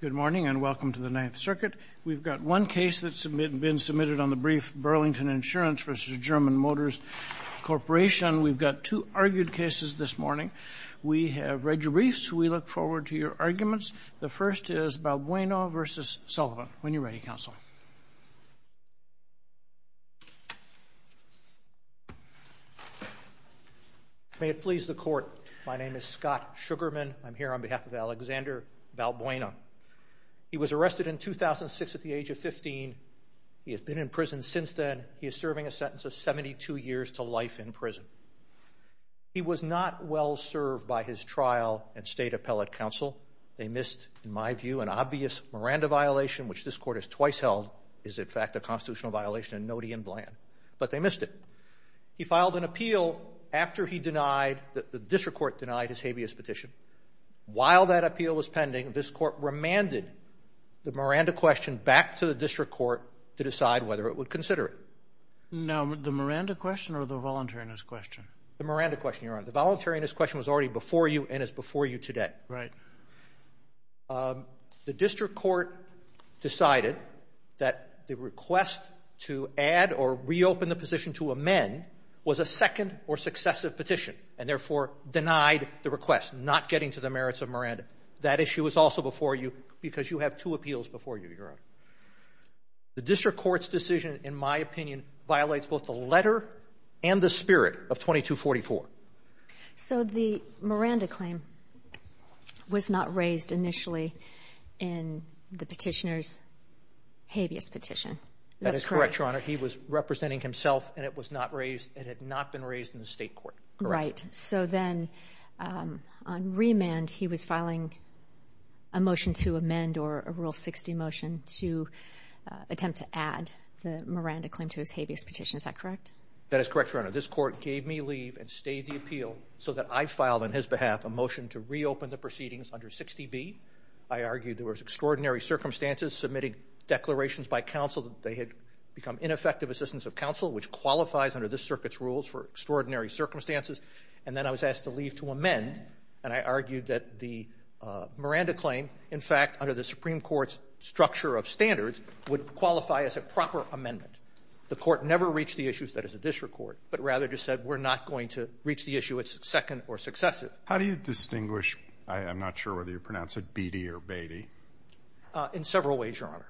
Good morning and welcome to the Ninth Circuit. We've got one case that's been submitted on the brief Burlington Insurance v. German Motors Corporation. We've got two argued cases this morning. We have read your briefs. We look forward to your arguments. The first is Balbuena v. Sullivan. When you're ready, Counsel. May it please the Court, my name is Scott Sugarman. I'm here on behalf of Alexander Balbuena. He was arrested in 2006 at the age of 15. He has been in prison since then. He is serving a sentence of 72 years to life in prison. He was not well-served by his trial and State Appellate Counsel. They missed, in my view, an obvious Miranda violation, which this Court has twice held. He is now serving a sentence of 72 years to life in prison. His trial is, in fact, a constitutional violation in Nody and Bland. But they missed it. He filed an appeal after he denied that the district court denied his habeas petition. While that appeal was pending, this Court remanded the Miranda question back to the district court to decide whether it would consider it. Now, the Miranda question or the voluntariness question? The Miranda question, Your Honor. The voluntariness question was already before you and is before you today. Right. The district court decided that the request to add or reopen the position to amend was a second or successive petition and, therefore, denied the request, not getting to the merits of Miranda. That issue is also before you because you have two appeals before you, Your Honor. The district court's decision, in my opinion, violates both the letter and the spirit of 2244. So the Miranda claim was not raised initially in the petitioner's habeas petition. That's correct? That is correct, Your Honor. He was representing himself, and it was not raised. It had not been raised in the state court. Right. So then on remand, he was filing a motion to amend or a Rule 60 motion to attempt to add the Miranda claim to his habeas petition. Is that correct? That is correct, Your Honor. This Court gave me leave and stayed the appeal so that I filed on his behalf a motion to reopen the proceedings under 60B. I argued there was extraordinary circumstances submitting declarations by counsel that they had become ineffective assistants of counsel, which qualifies under this circuit's rules for extraordinary circumstances. And then I was asked to leave to amend, and I argued that the Miranda claim, in fact, under the Supreme Court's structure of standards, would qualify as a proper amendment. The Court never reached the issue that it's a district court, but rather just said, we're not going to reach the issue. It's second or successive. How do you distinguish? I'm not sure whether you pronounce it Beattie or Beatty. In several ways, Your Honor.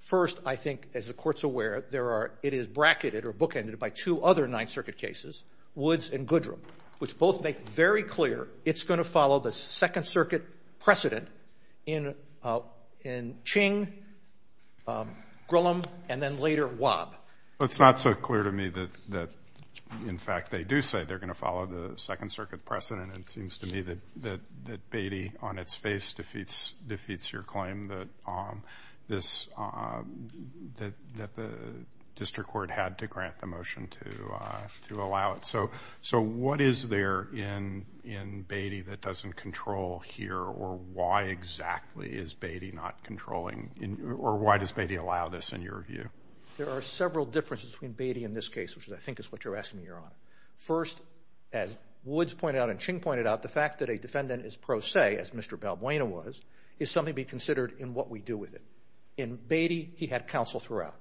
First, I think, as the Court's aware, there are – it is bracketed or bookended by two other Ninth Circuit cases, Woods and Goodrum, which both make very clear it's going to follow the Second Circuit precedent in Ching, Grillam, and then later Wobb. It's not so clear to me that, in fact, they do say they're going to follow the Second Circuit precedent. It seems to me that Beattie, on its face, defeats your claim that this – that the district court had to grant the motion to allow it. So what is there in Beattie that doesn't control here, or why exactly is Beattie not controlling – or why does Beattie allow this, in your view? There are several differences between Beattie in this case, which I think is what you're asking me, Your Honor. First, as Woods pointed out and Ching pointed out, the fact that a defendant is pro se, as Mr. Balbuena was, is something to be considered in what we do with it. In Beattie, he had counsel throughout.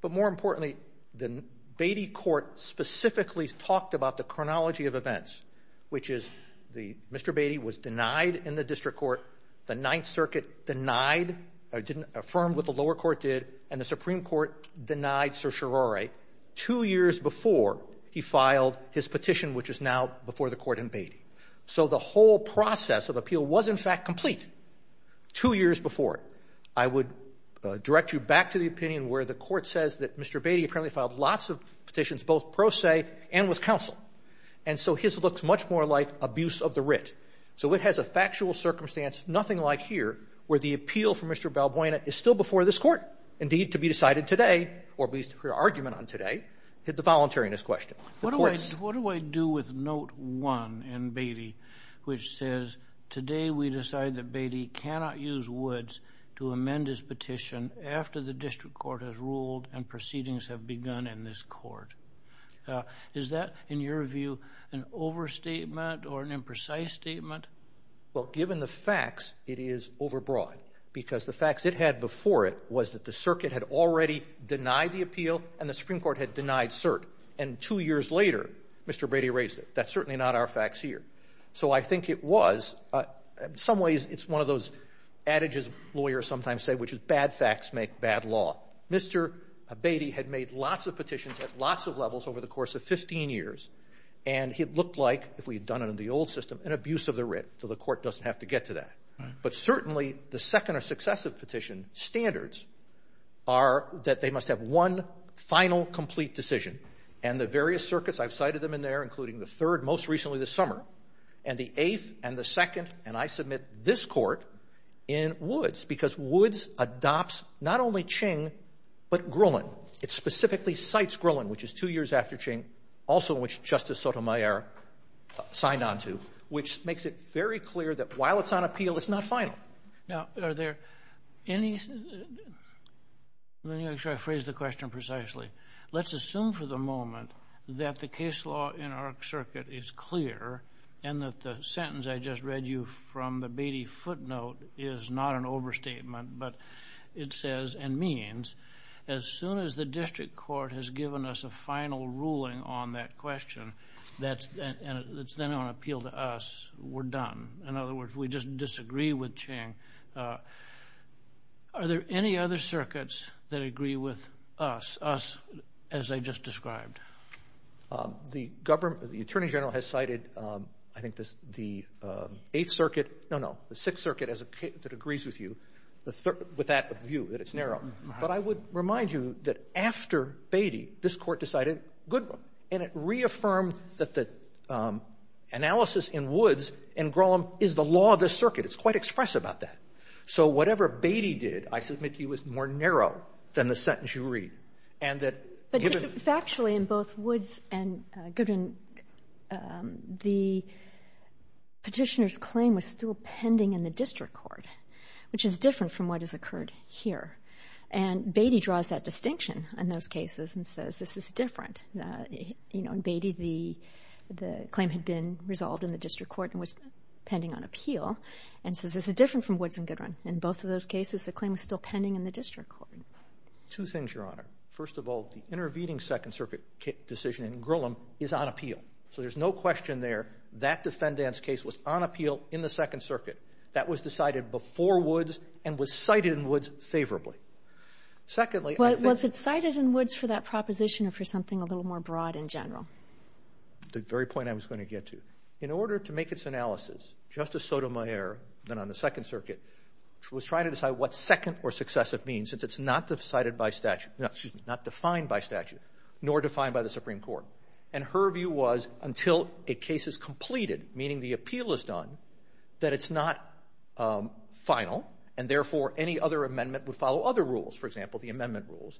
But more importantly, the Beattie court specifically talked about the chronology of events, which is Mr. Beattie was denied in the district court, the Ninth Circuit denied or didn't affirm what the lower court did, and the Supreme Court denied certiorari two years before he filed his petition, which is now before the court in Beattie. So the whole process of appeal was, in fact, complete two years before. I would direct you back to the opinion where the court says that Mr. Beattie apparently filed lots of petitions, both pro se and with counsel. And so his looks much more like abuse of the writ. So it has a factual circumstance, nothing like here, where the appeal for Mr. Balbuena is still before this court. Indeed, to be decided today, or at least for argument on today, hit the voluntariness question. What do I do with note one in Beattie, which says, today we decide that Beattie cannot use Woods to amend his petition after the district court has ruled and proceedings have begun in this court? Is that, in your view, an overstatement or an imprecise statement? Well, given the facts, it is overbroad. Because the facts it had before it was that the circuit had already denied the appeal and the Supreme Court had denied cert. And two years later, Mr. Beattie raised it. That's certainly not our facts here. So I think it was, in some ways, it's one of those adages lawyers sometimes say, which is bad facts make bad law. Mr. Beattie had made lots of petitions at lots of levels over the course of 15 years. And it looked like, if we had done it in the old system, an abuse of the writ, so the court doesn't have to get to that. But certainly, the second or successive petition standards are that they must have one final, complete decision. And the various circuits, I've cited them in there, including the third most recently this summer, and the eighth and the second. And I submit this Court in Woods, because Woods adopts not only Ching, but Grillon. It specifically cites Grillon, which is two years after Ching, also which Justice Sotomayor signed on to, which makes it very clear that while it's on appeal, it's not final. Now, are there any, let me make sure I phrase the question precisely. Let's assume for the moment that the case law in our circuit is clear, and that the sentence I just read you from the Beattie footnote is not an overstatement, but it says and means as soon as the district court has given us a final ruling on that question, that's then on appeal to us, we're done. In other words, we just disagree with Ching. Are there any other circuits that agree with us, as I just described? The Attorney General has cited, I think, the Eighth Circuit. No, no, the Sixth Circuit that agrees with you with that view, that it's narrow. But I would remind you that after Beattie, this Court decided Goodwin, and it reaffirmed that the analysis in Woods and Grillon is the law of this circuit. It's quite express about that. So whatever Beattie did, I submit to you, is more narrow than the sentence you read. And that given the ---- But factually in both Woods and Goodwin, the Petitioner's claim was still pending in the district court, which is different from what has occurred here. And Beattie draws that distinction in those cases and says this is different. You know, in Beattie, the claim had been resolved in the district court and was pending on appeal, and says this is different from Woods and Goodwin. In both of those cases, the claim is still pending in the district court. Two things, Your Honor. First of all, the intervening Second Circuit decision in Grillon is on appeal. So there's no question there that defendant's case was on appeal in the Second Circuit. That was decided before Woods and was cited in Woods favorably. Secondly, I think ---- Was it cited in Woods for that proposition or for something a little more broad in general? The very point I was going to get to. In order to make its analysis, Justice Sotomayor, then on the Second Circuit, was trying to decide what second or successive means, since it's not cited by statute ---- excuse me, not defined by statute, nor defined by the Supreme Court. And her view was until a case is completed, meaning the appeal is done, that it's not final and, therefore, any other amendment would follow other rules. For example, the amendment rules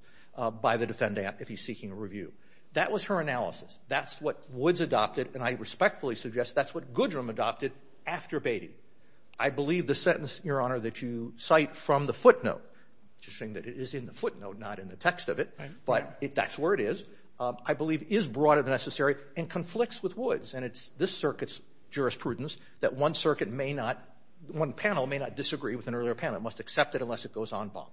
by the defendant if he's seeking a review. That was her analysis. That's what Woods adopted. And I respectfully suggest that's what Goodrum adopted after Beatty. I believe the sentence, Your Honor, that you cite from the footnote, interesting that it is in the footnote, not in the text of it, but that's where it is, I believe is broader than necessary and conflicts with Woods. And it's this circuit's jurisprudence that one circuit may not ---- one panel may not disagree with an earlier panel. It must accept it unless it goes en banc.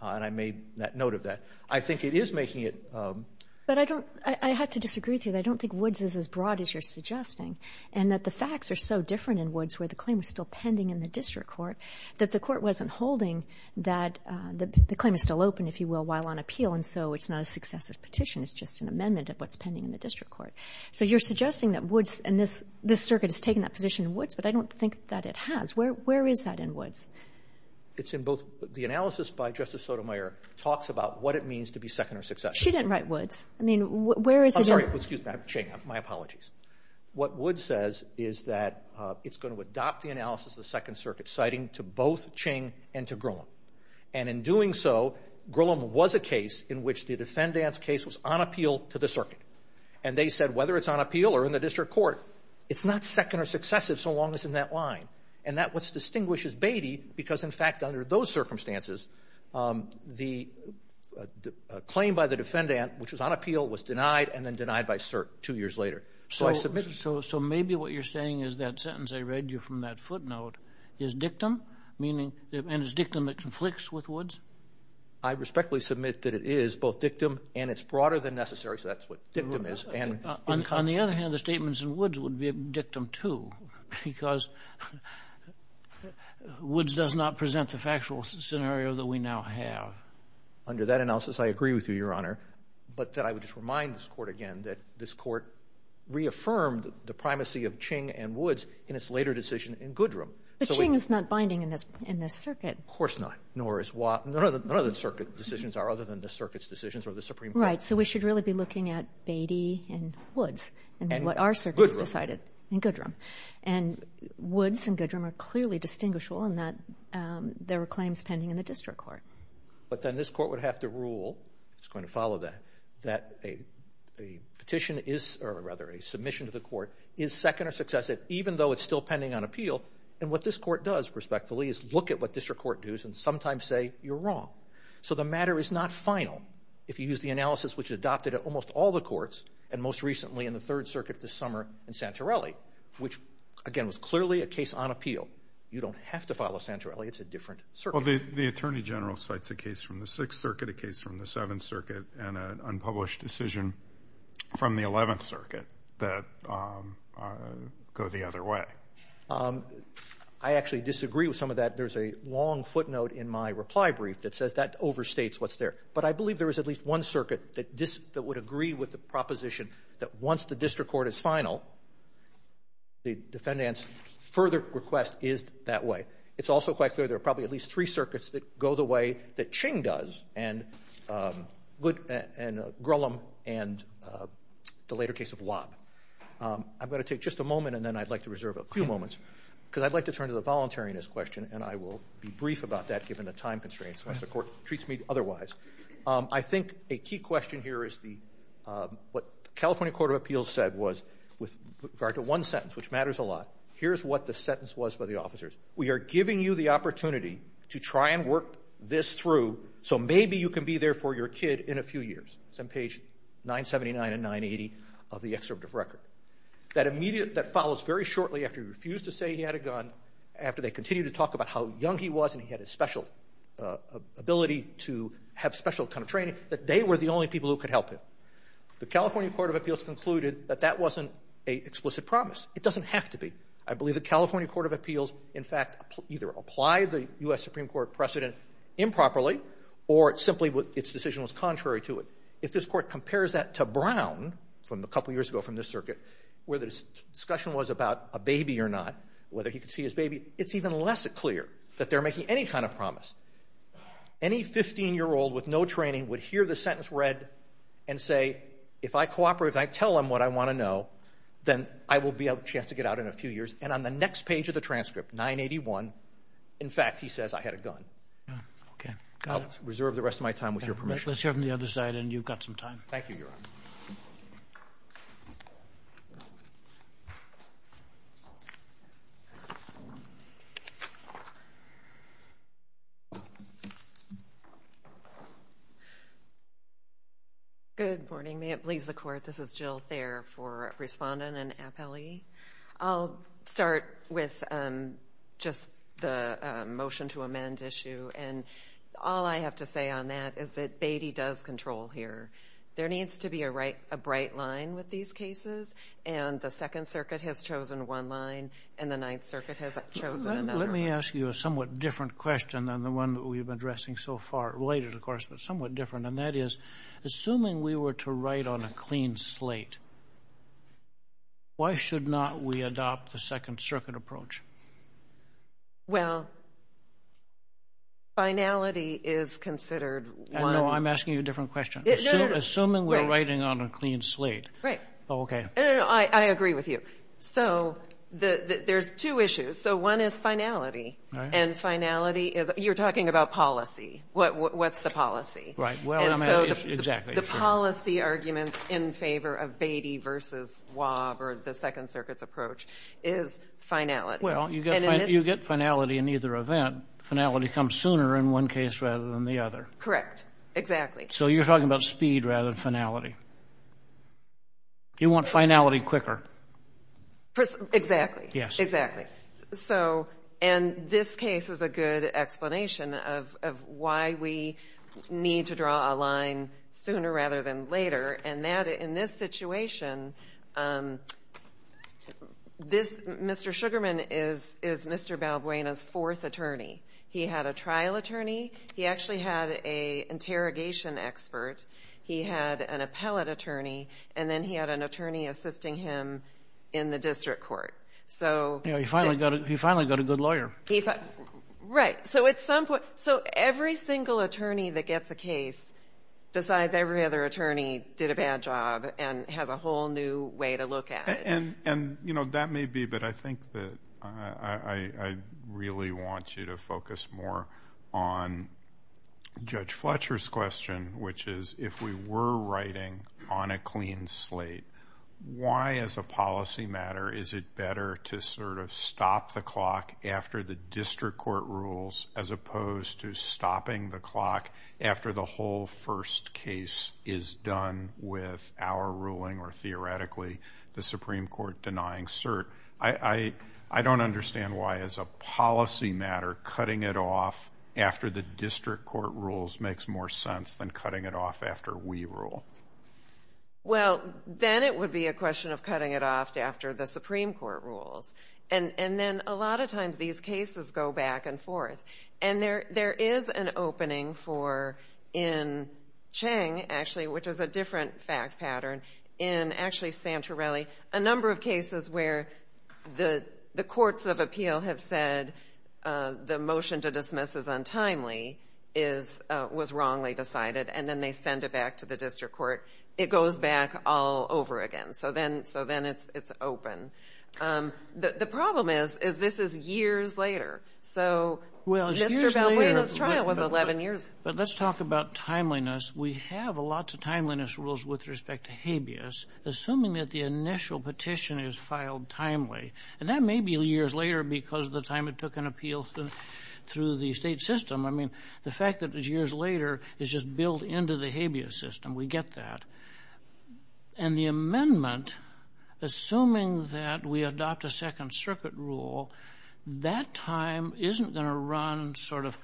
And I made that note of that. I think it is making it ---- But I don't ---- I have to disagree with you. I don't think Woods is as broad as you're suggesting. And that the facts are so different in Woods where the claim is still pending in the district court, that the court wasn't holding that the claim is still open, if you will, while on appeal, and so it's not a successive petition. It's just an amendment of what's pending in the district court. So you're suggesting that Woods and this circuit has taken that position in Woods, but I don't think that it has. Where is that in Woods? It's in both. The analysis by Justice Sotomayor talks about what it means to be second or successive. She didn't write Woods. I mean, where is it in ---- I'm sorry. Excuse me. I'm Ching. My apologies. What Woods says is that it's going to adopt the analysis of the Second Circuit citing to both Ching and to Grillam. And in doing so, Grillam was a case in which the defendant's case was on appeal to the circuit. And they said whether it's on appeal or in the district court, it's not second or successive so long as it's in that line. And that's what distinguishes Beatty because, in fact, under those circumstances, the claim by the defendant, which was on appeal, was denied and then denied by cert two years later. So I submit ---- So maybe what you're saying is that sentence I read you from that footnote is dictum, meaning ---- and it's dictum that conflicts with Woods? I respectfully submit that it is both dictum and it's broader than necessary, so that's what dictum is. On the other hand, the statements in Woods would be dictum, too, because Woods does not present the factual scenario that we now have. Under that analysis, I agree with you, Your Honor. But I would just remind this Court again that this Court reaffirmed the primacy of Ching and Woods in its later decision in Goodram. But Ching is not binding in this circuit. Of course not. Nor is Watt. None of the circuit decisions are other than the circuit's decisions or the Supreme Court's decisions. Right. So we should really be looking at Beatty and Woods and what our circuit has decided in Goodram. And Woods and Goodram are clearly distinguishable in that there were claims pending in the district court. But then this Court would have to rule, it's going to follow that, that a petition is or rather a submission to the Court is second or successive even though it's still pending on appeal. And what this Court does, respectfully, is look at what district court dues and sometimes say you're wrong. So the matter is not final if you use the analysis which is adopted at almost all the courts and most recently in the Third Circuit this summer in Santorelli which, again, was clearly a case on appeal. You don't have to follow Santorelli. It's a different circuit. Well, the Attorney General cites a case from the Sixth Circuit, a case from the Seventh Circuit, and an unpublished decision from the Eleventh Circuit that go the other way. I actually disagree with some of that. There's a long footnote in my reply brief that says that overstates what's there. But I believe there is at least one circuit that would agree with the proposition that once the district court is final, the defendant's further request is that way. It's also quite clear there are probably at least three circuits that go the way that Ching does and Goodram and the later case of Lobb. I'm going to take just a moment and then I'd like to reserve a few moments because I'd like to turn to the voluntariness question and I will be brief about that given the time constraints unless the Court treats me otherwise. I think a key question here is what the California Court of Appeals said was with regard to one sentence, which matters a lot, here's what the sentence was for the officers. We are giving you the opportunity to try and work this through so maybe you can be there for your kid in a few years. It's on page 979 and 980 of the excerpt of record. That immediate, that follows very shortly after he refused to say he had a gun, after they continued to talk about how young he was and he had a special ability to have special kind of training, that they were the only people who could help him. The California Court of Appeals concluded that that wasn't an explicit promise. It doesn't have to be. I believe the California Court of Appeals, in fact, either applied the U.S. Supreme Court precedent improperly or simply its decision was contrary to it. If this Court compares that to Brown from a couple of years ago from this circuit where the discussion was about a baby or not, whether he could see his baby, it's even less clear that they're making any kind of promise. Any 15-year-old with no training would hear the sentence read and say, if I cooperate, if I tell him what I want to know, then I will be able to get out in a few years. And on the next page of the transcript, 981, in fact, he says I had a gun. Okay. I'll reserve the rest of my time with your permission. Let's hear from the other side, and you've got some time. Thank you, Your Honor. Good morning. May it please the Court, this is Jill Thayer for Respondent and appellee. I'll start with just the motion to amend issue. And all I have to say on that is that Beatty does control here. There needs to be a bright line with these cases, and the Second Circuit has chosen one line and the Ninth Circuit has chosen another. Let me ask you a somewhat different question than the one that we've been addressing so far, related, of course, but somewhat different, and that is, assuming we were to write on a clean slate, why should not we adopt the Second Circuit approach? Well, finality is considered one. No, I'm asking you a different question. No, no. Assuming we're writing on a clean slate. Right. Okay. No, no, no. I agree with you. So there's two issues. So one is finality. Right. And finality is, you're talking about policy. What's the policy? Right. Well, I mean, exactly. And so the policy arguments in favor of Beatty versus Waub or the Second Circuit's approach is finality. Well, you get finality in either event. Finality comes sooner in one case rather than the other. Correct. Exactly. So you're talking about speed rather than finality. You want finality quicker. Exactly. Yes. Exactly. So, and this case is a good explanation of why we need to draw a line sooner rather than This Mr. Sugarman is Mr. Balbuena's fourth attorney. He had a trial attorney. He actually had an interrogation expert. He had an appellate attorney. And then he had an attorney assisting him in the district court. You know, he finally got a good lawyer. Right. So every single attorney that gets a case, besides every other attorney, did a bad job and has a whole new way to look at it. And, you know, that may be, but I think that I really want you to focus more on Judge Fletcher's question, which is, if we were writing on a clean slate, why as a policy matter is it better to sort of stop the clock after the district court rules as opposed to stopping the clock after the whole first case is done with our ruling or theoretically the Supreme Court denying cert? I don't understand why as a policy matter cutting it off after the district court rules makes more sense than cutting it off after we rule. Well, then it would be a question of cutting it off after the Supreme Court rules. And then a lot of times these cases go back and forth. And there is an opening for, in Cheng, actually, which is a different fact pattern, in actually Santorelli, a number of cases where the courts of appeal have said the motion to dismiss is untimely, was wrongly decided, and then they send it back to the district court. It goes back all over again. So then it's open. The problem is, is this is years later. So Mr. Balboa's trial was 11 years. But let's talk about timeliness. We have lots of timeliness rules with respect to habeas, assuming that the initial petition is filed timely. And that may be years later because of the time it took an appeal through the state system. I mean, the fact that it was years later is just built into the habeas system. We get that. And the amendment, assuming that we adopt a Second Circuit rule, that time isn't going to run sort of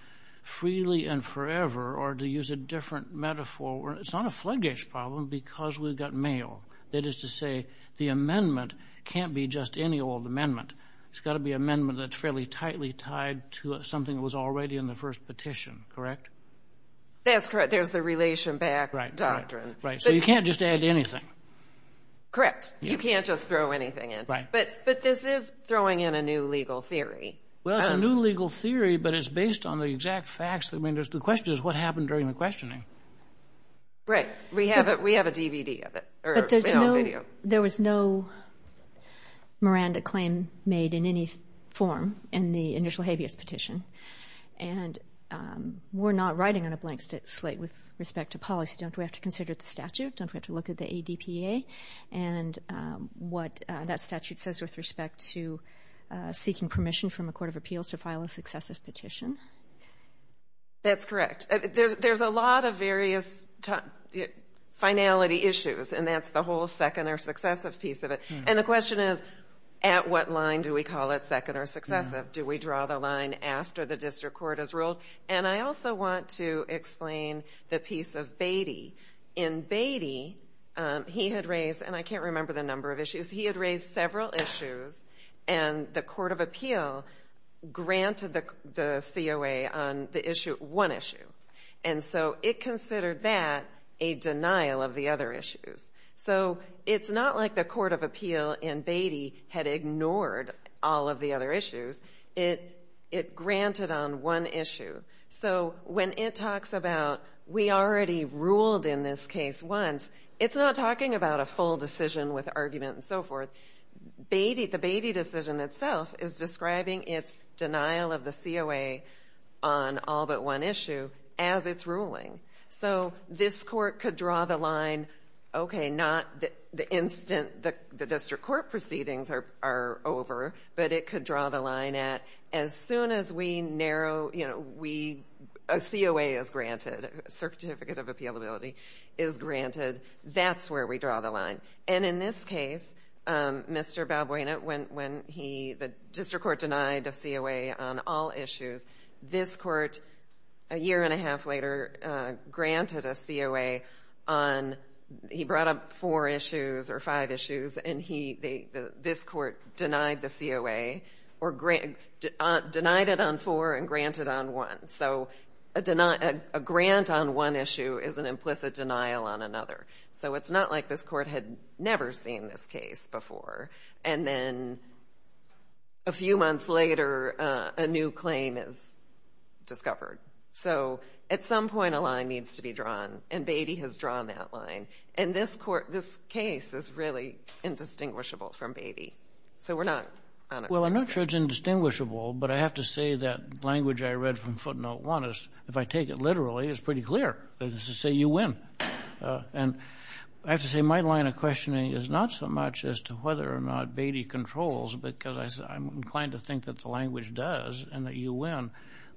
freely and forever, or to use a different metaphor, it's not a floodgates problem because we've got mail. That is to say, the amendment can't be just any old amendment. It's got to be an amendment that's fairly tightly tied to something that was already in the first petition, correct? That's correct. There's the relation back doctrine. Right. So you can't just add anything. Correct. You can't just throw anything in. Right. But this is throwing in a new legal theory. Well, it's a new legal theory, but it's based on the exact facts. I mean, the question is what happened during the questioning. Right. We have a DVD of it. But there was no Miranda claim made in any form in the initial habeas petition. And we're not writing on a blank slate with respect to policy. Don't we have to consider the statute? Don't we have to look at the ADPA? And what that statute says with respect to seeking permission from a court of appeals to file a successive petition. That's correct. There's a lot of various finality issues, and that's the whole second or successive piece of it. And the question is, at what line do we call it second or successive? Do we draw the line after the district court has ruled? And I also want to explain the piece of Beatty. In Beatty, he had raised, and I can't remember the number of issues. He had raised several issues, and the court of appeal granted the COA on one issue. And so it considered that a denial of the other issues. So it's not like the court of appeal in Beatty had ignored all of the other issues. It granted on one issue. So when it talks about we already ruled in this case once, it's not talking about a full decision with argument and so forth. The Beatty decision itself is describing its denial of the COA on all but one issue as its ruling. So this court could draw the line, okay, not the instant the district court proceedings are over, but it could draw the line at as soon as we narrow, you know, a COA is granted, a certificate of appealability is granted. That's where we draw the line. And in this case, Mr. Balboina, when the district court denied a COA on all issues, this court a year and a half later granted a COA on he brought up four issues or five issues, and this court denied it on four and granted on one. So a grant on one issue is an implicit denial on another. So it's not like this court had never seen this case before, and then a few months later a new claim is discovered. So at some point a line needs to be drawn, and Beatty has drawn that line. And this case is really indistinguishable from Beatty. So we're not on it. Well, I'm not sure it's indistinguishable, but I have to say that language I read from footnote one is, if I take it literally, it's pretty clear. It's to say you win. And I have to say my line of questioning is not so much as to whether or not Beatty controls, because I'm inclined to think that the language does and that you win.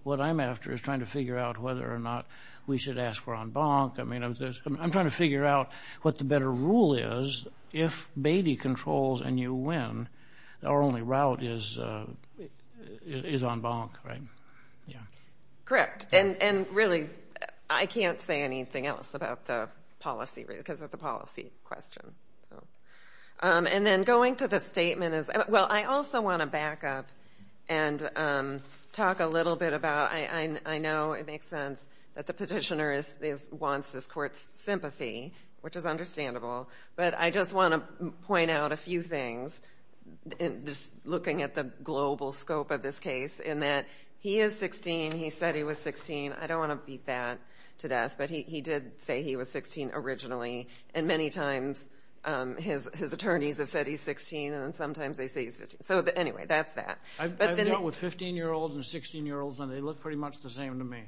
What I'm after is trying to figure out whether or not we should ask for en banc. I'm trying to figure out what the better rule is. If Beatty controls and you win, our only route is en banc, right? Correct. And really, I can't say anything else about the policy, because it's a policy question. And then going to the statement is, well, I also want to back up and talk a little bit about, I know it makes sense that the petitioner wants this court's sympathy, which is understandable, but I just want to point out a few things, just looking at the global scope of this case, in that he is 16. He said he was 16. I don't want to beat that to death, but he did say he was 16 originally, and many times his attorneys have said he's 16, and then sometimes they say he's 15. So, anyway, that's that. I've dealt with 15-year-olds and 16-year-olds, and they look pretty much the same to me.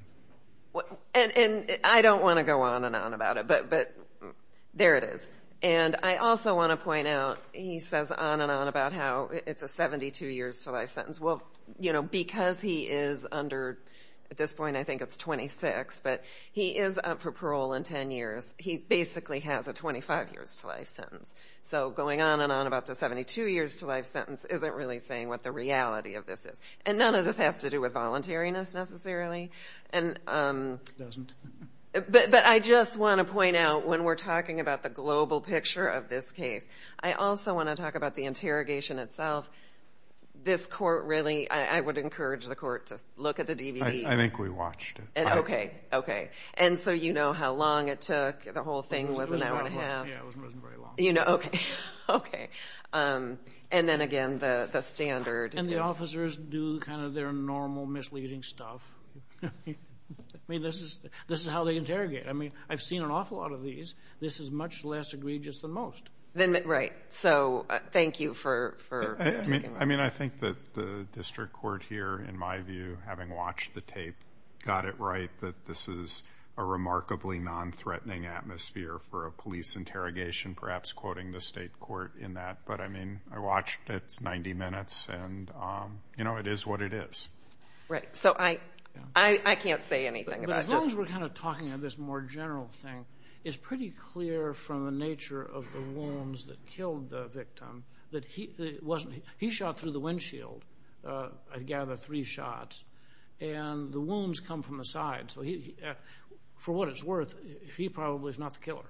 And I don't want to go on and on about it, but there it is. And I also want to point out, he says on and on about how it's a 72-years-to-life sentence. Well, you know, because he is under, at this point I think it's 26, but he is up for parole in 10 years. He basically has a 25-years-to-life sentence. So going on and on about the 72-years-to-life sentence isn't really saying what the reality of this is. And none of this has to do with voluntariness necessarily. It doesn't. But I just want to point out, when we're talking about the global picture of this case, I also want to talk about the interrogation itself. This court really, I would encourage the court to look at the DVD. I think we watched it. Okay, okay. And so you know how long it took. The whole thing was an hour and a half. Yeah, it wasn't very long. Okay. And then again, the standard is. And the officers do kind of their normal misleading stuff. I mean, this is how they interrogate. I mean, I've seen an awful lot of these. This is much less egregious than most. Right. So thank you for taking that. that this is a remarkably non-threatening atmosphere for a police interrogation, perhaps quoting the state court in that. But, I mean, I watched it. It's 90 minutes. And, you know, it is what it is. Right. So I can't say anything about this. But as long as we're kind of talking about this more general thing, it's pretty clear from the nature of the wounds that killed the victim. He shot through the windshield, I gather, three shots. And the wounds come from the side. So for what it's worth, he probably is not the killer.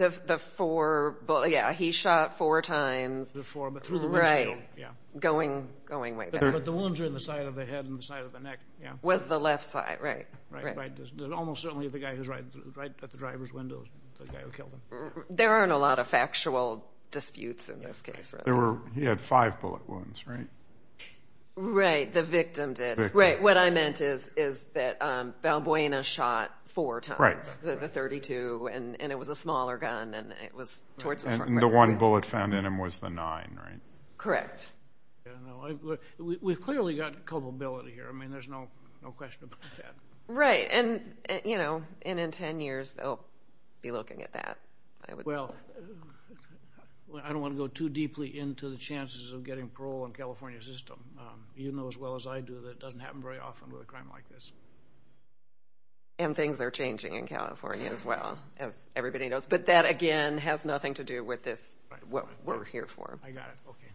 Yeah, he shot four times. But through the windshield. Right. Going way back. But the wounds are in the side of the head and the side of the neck. Was the left side, right. Right. Almost certainly the guy who's right at the driver's window is the guy who killed him. There aren't a lot of factual disputes in this case, really. He had five bullet wounds, right? Right. The victim did. Right. What I meant is that Balbuena shot four times. Right. The 32. And it was a smaller gun. And it was towards the front. And the one bullet found in him was the 9, right? Correct. We've clearly got culpability here. I mean, there's no question about that. Right. And, you know, in 10 years, they'll be looking at that. Well, I don't want to go too deeply into the chances of getting parole in the California system. You know as well as I do that it doesn't happen very often with a crime like this. And things are changing in California as well, as everybody knows. But that, again, has nothing to do with what we're here for. I got it. Okay.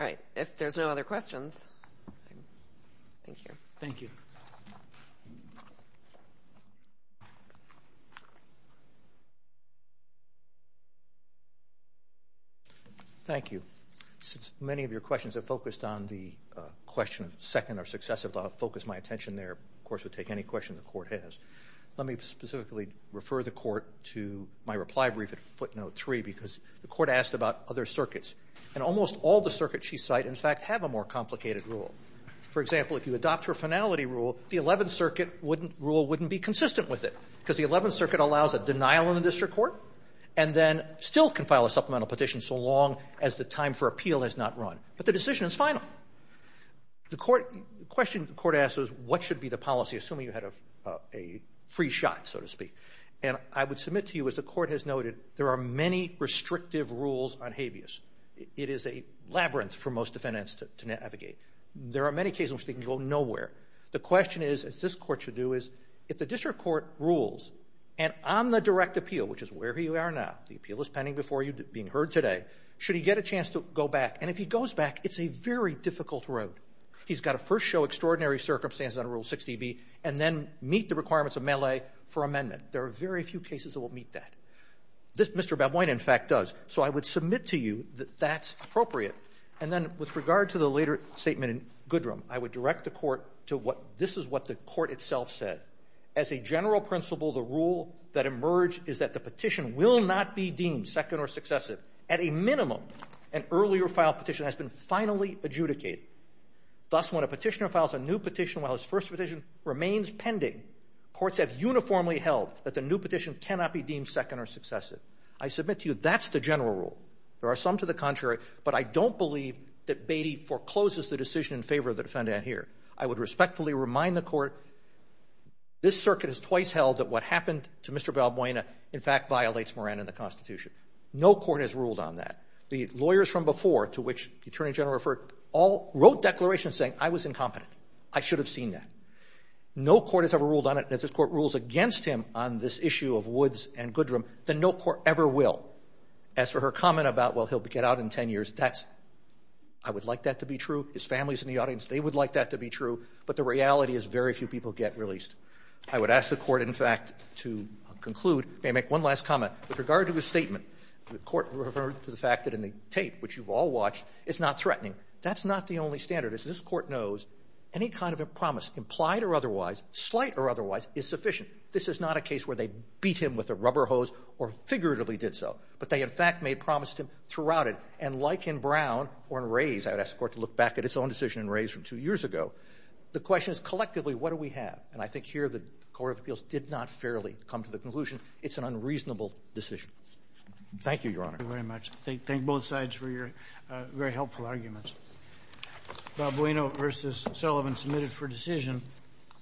All right. If there's no other questions, thank you. Thank you. Thank you. Since many of your questions have focused on the question of second or successive, I'll focus my attention there. Of course, we'll take any question the Court has. Let me specifically refer the Court to my reply brief at footnote 3 because the Court asked about other circuits. And almost all the circuits she cite, in fact, have a more complicated rule. For example, if you adopt her finality rule, the Eleventh Circuit rule wouldn't be consistent with it because the Eleventh Circuit allows a denial in the district court and then still can file a supplemental petition so long as the time for appeal has not run. But the decision is final. The question the Court asks is what should be the policy, assuming you had a free shot, so to speak. And I would submit to you, as the Court has noted, there are many restrictive rules on habeas. It is a labyrinth for most defendants to navigate. There are many cases in which they can go nowhere. The question is, as this Court should do, is if the district court rules, and on the direct appeal, which is wherever you are now, the appeal is pending before you, being heard today, should he get a chance to go back? And if he goes back, it's a very difficult road. He's got to first show extraordinary circumstances under Rule 60B and then meet the requirements of Melee for amendment. There are very few cases that will meet that. Mr. Bedwine, in fact, does. So I would submit to you that that's appropriate. And then with regard to the later statement in Goodram, I would direct the Court to what this is what the Court itself said. As a general principle, the rule that emerged is that the petition will not be deemed second or successive. At a minimum, an earlier filed petition has been finally adjudicated. Thus, when a petitioner files a new petition while his first petition remains pending, courts have uniformly held that the new petition cannot be deemed second or successive. I submit to you that's the general rule. There are some to the contrary, but I don't believe that Beatty forecloses the decision in favor of the defendant here. I would respectfully remind the Court, this circuit has twice held that what happened to Mr. Bedwine, in fact, violates Moran and the Constitution. No court has ruled on that. The lawyers from before, to which the Attorney General referred, all wrote declarations saying, I was incompetent. I should have seen that. No court has ever ruled on it. If this Court rules against him on this issue of Woods and Goodram, then no court ever will. As for her comment about, well, he'll get out in 10 years, that's — I would like that to be true. His family is in the audience. They would like that to be true. But the reality is very few people get released. I would ask the Court, in fact, to conclude. May I make one last comment? With regard to his statement, the Court referred to the fact that in the tape, which you've all watched, it's not threatening. That's not the only standard. As this Court knows, any kind of a promise, implied or otherwise, slight or otherwise, is sufficient. This is not a case where they beat him with a rubber hose or figuratively did so. But they, in fact, made promise to him throughout it. And like in Brown or in Rays, I would ask the Court to look back at its own decision in Rays from two years ago. The question is, collectively, what do we have? And I think here the Court of Appeals did not fairly come to the conclusion it's an unreasonable decision. Thank you, Your Honor. Thank you very much. Thank both sides for your very helpful arguments. Balbueno v. Sullivan, submitted for decision.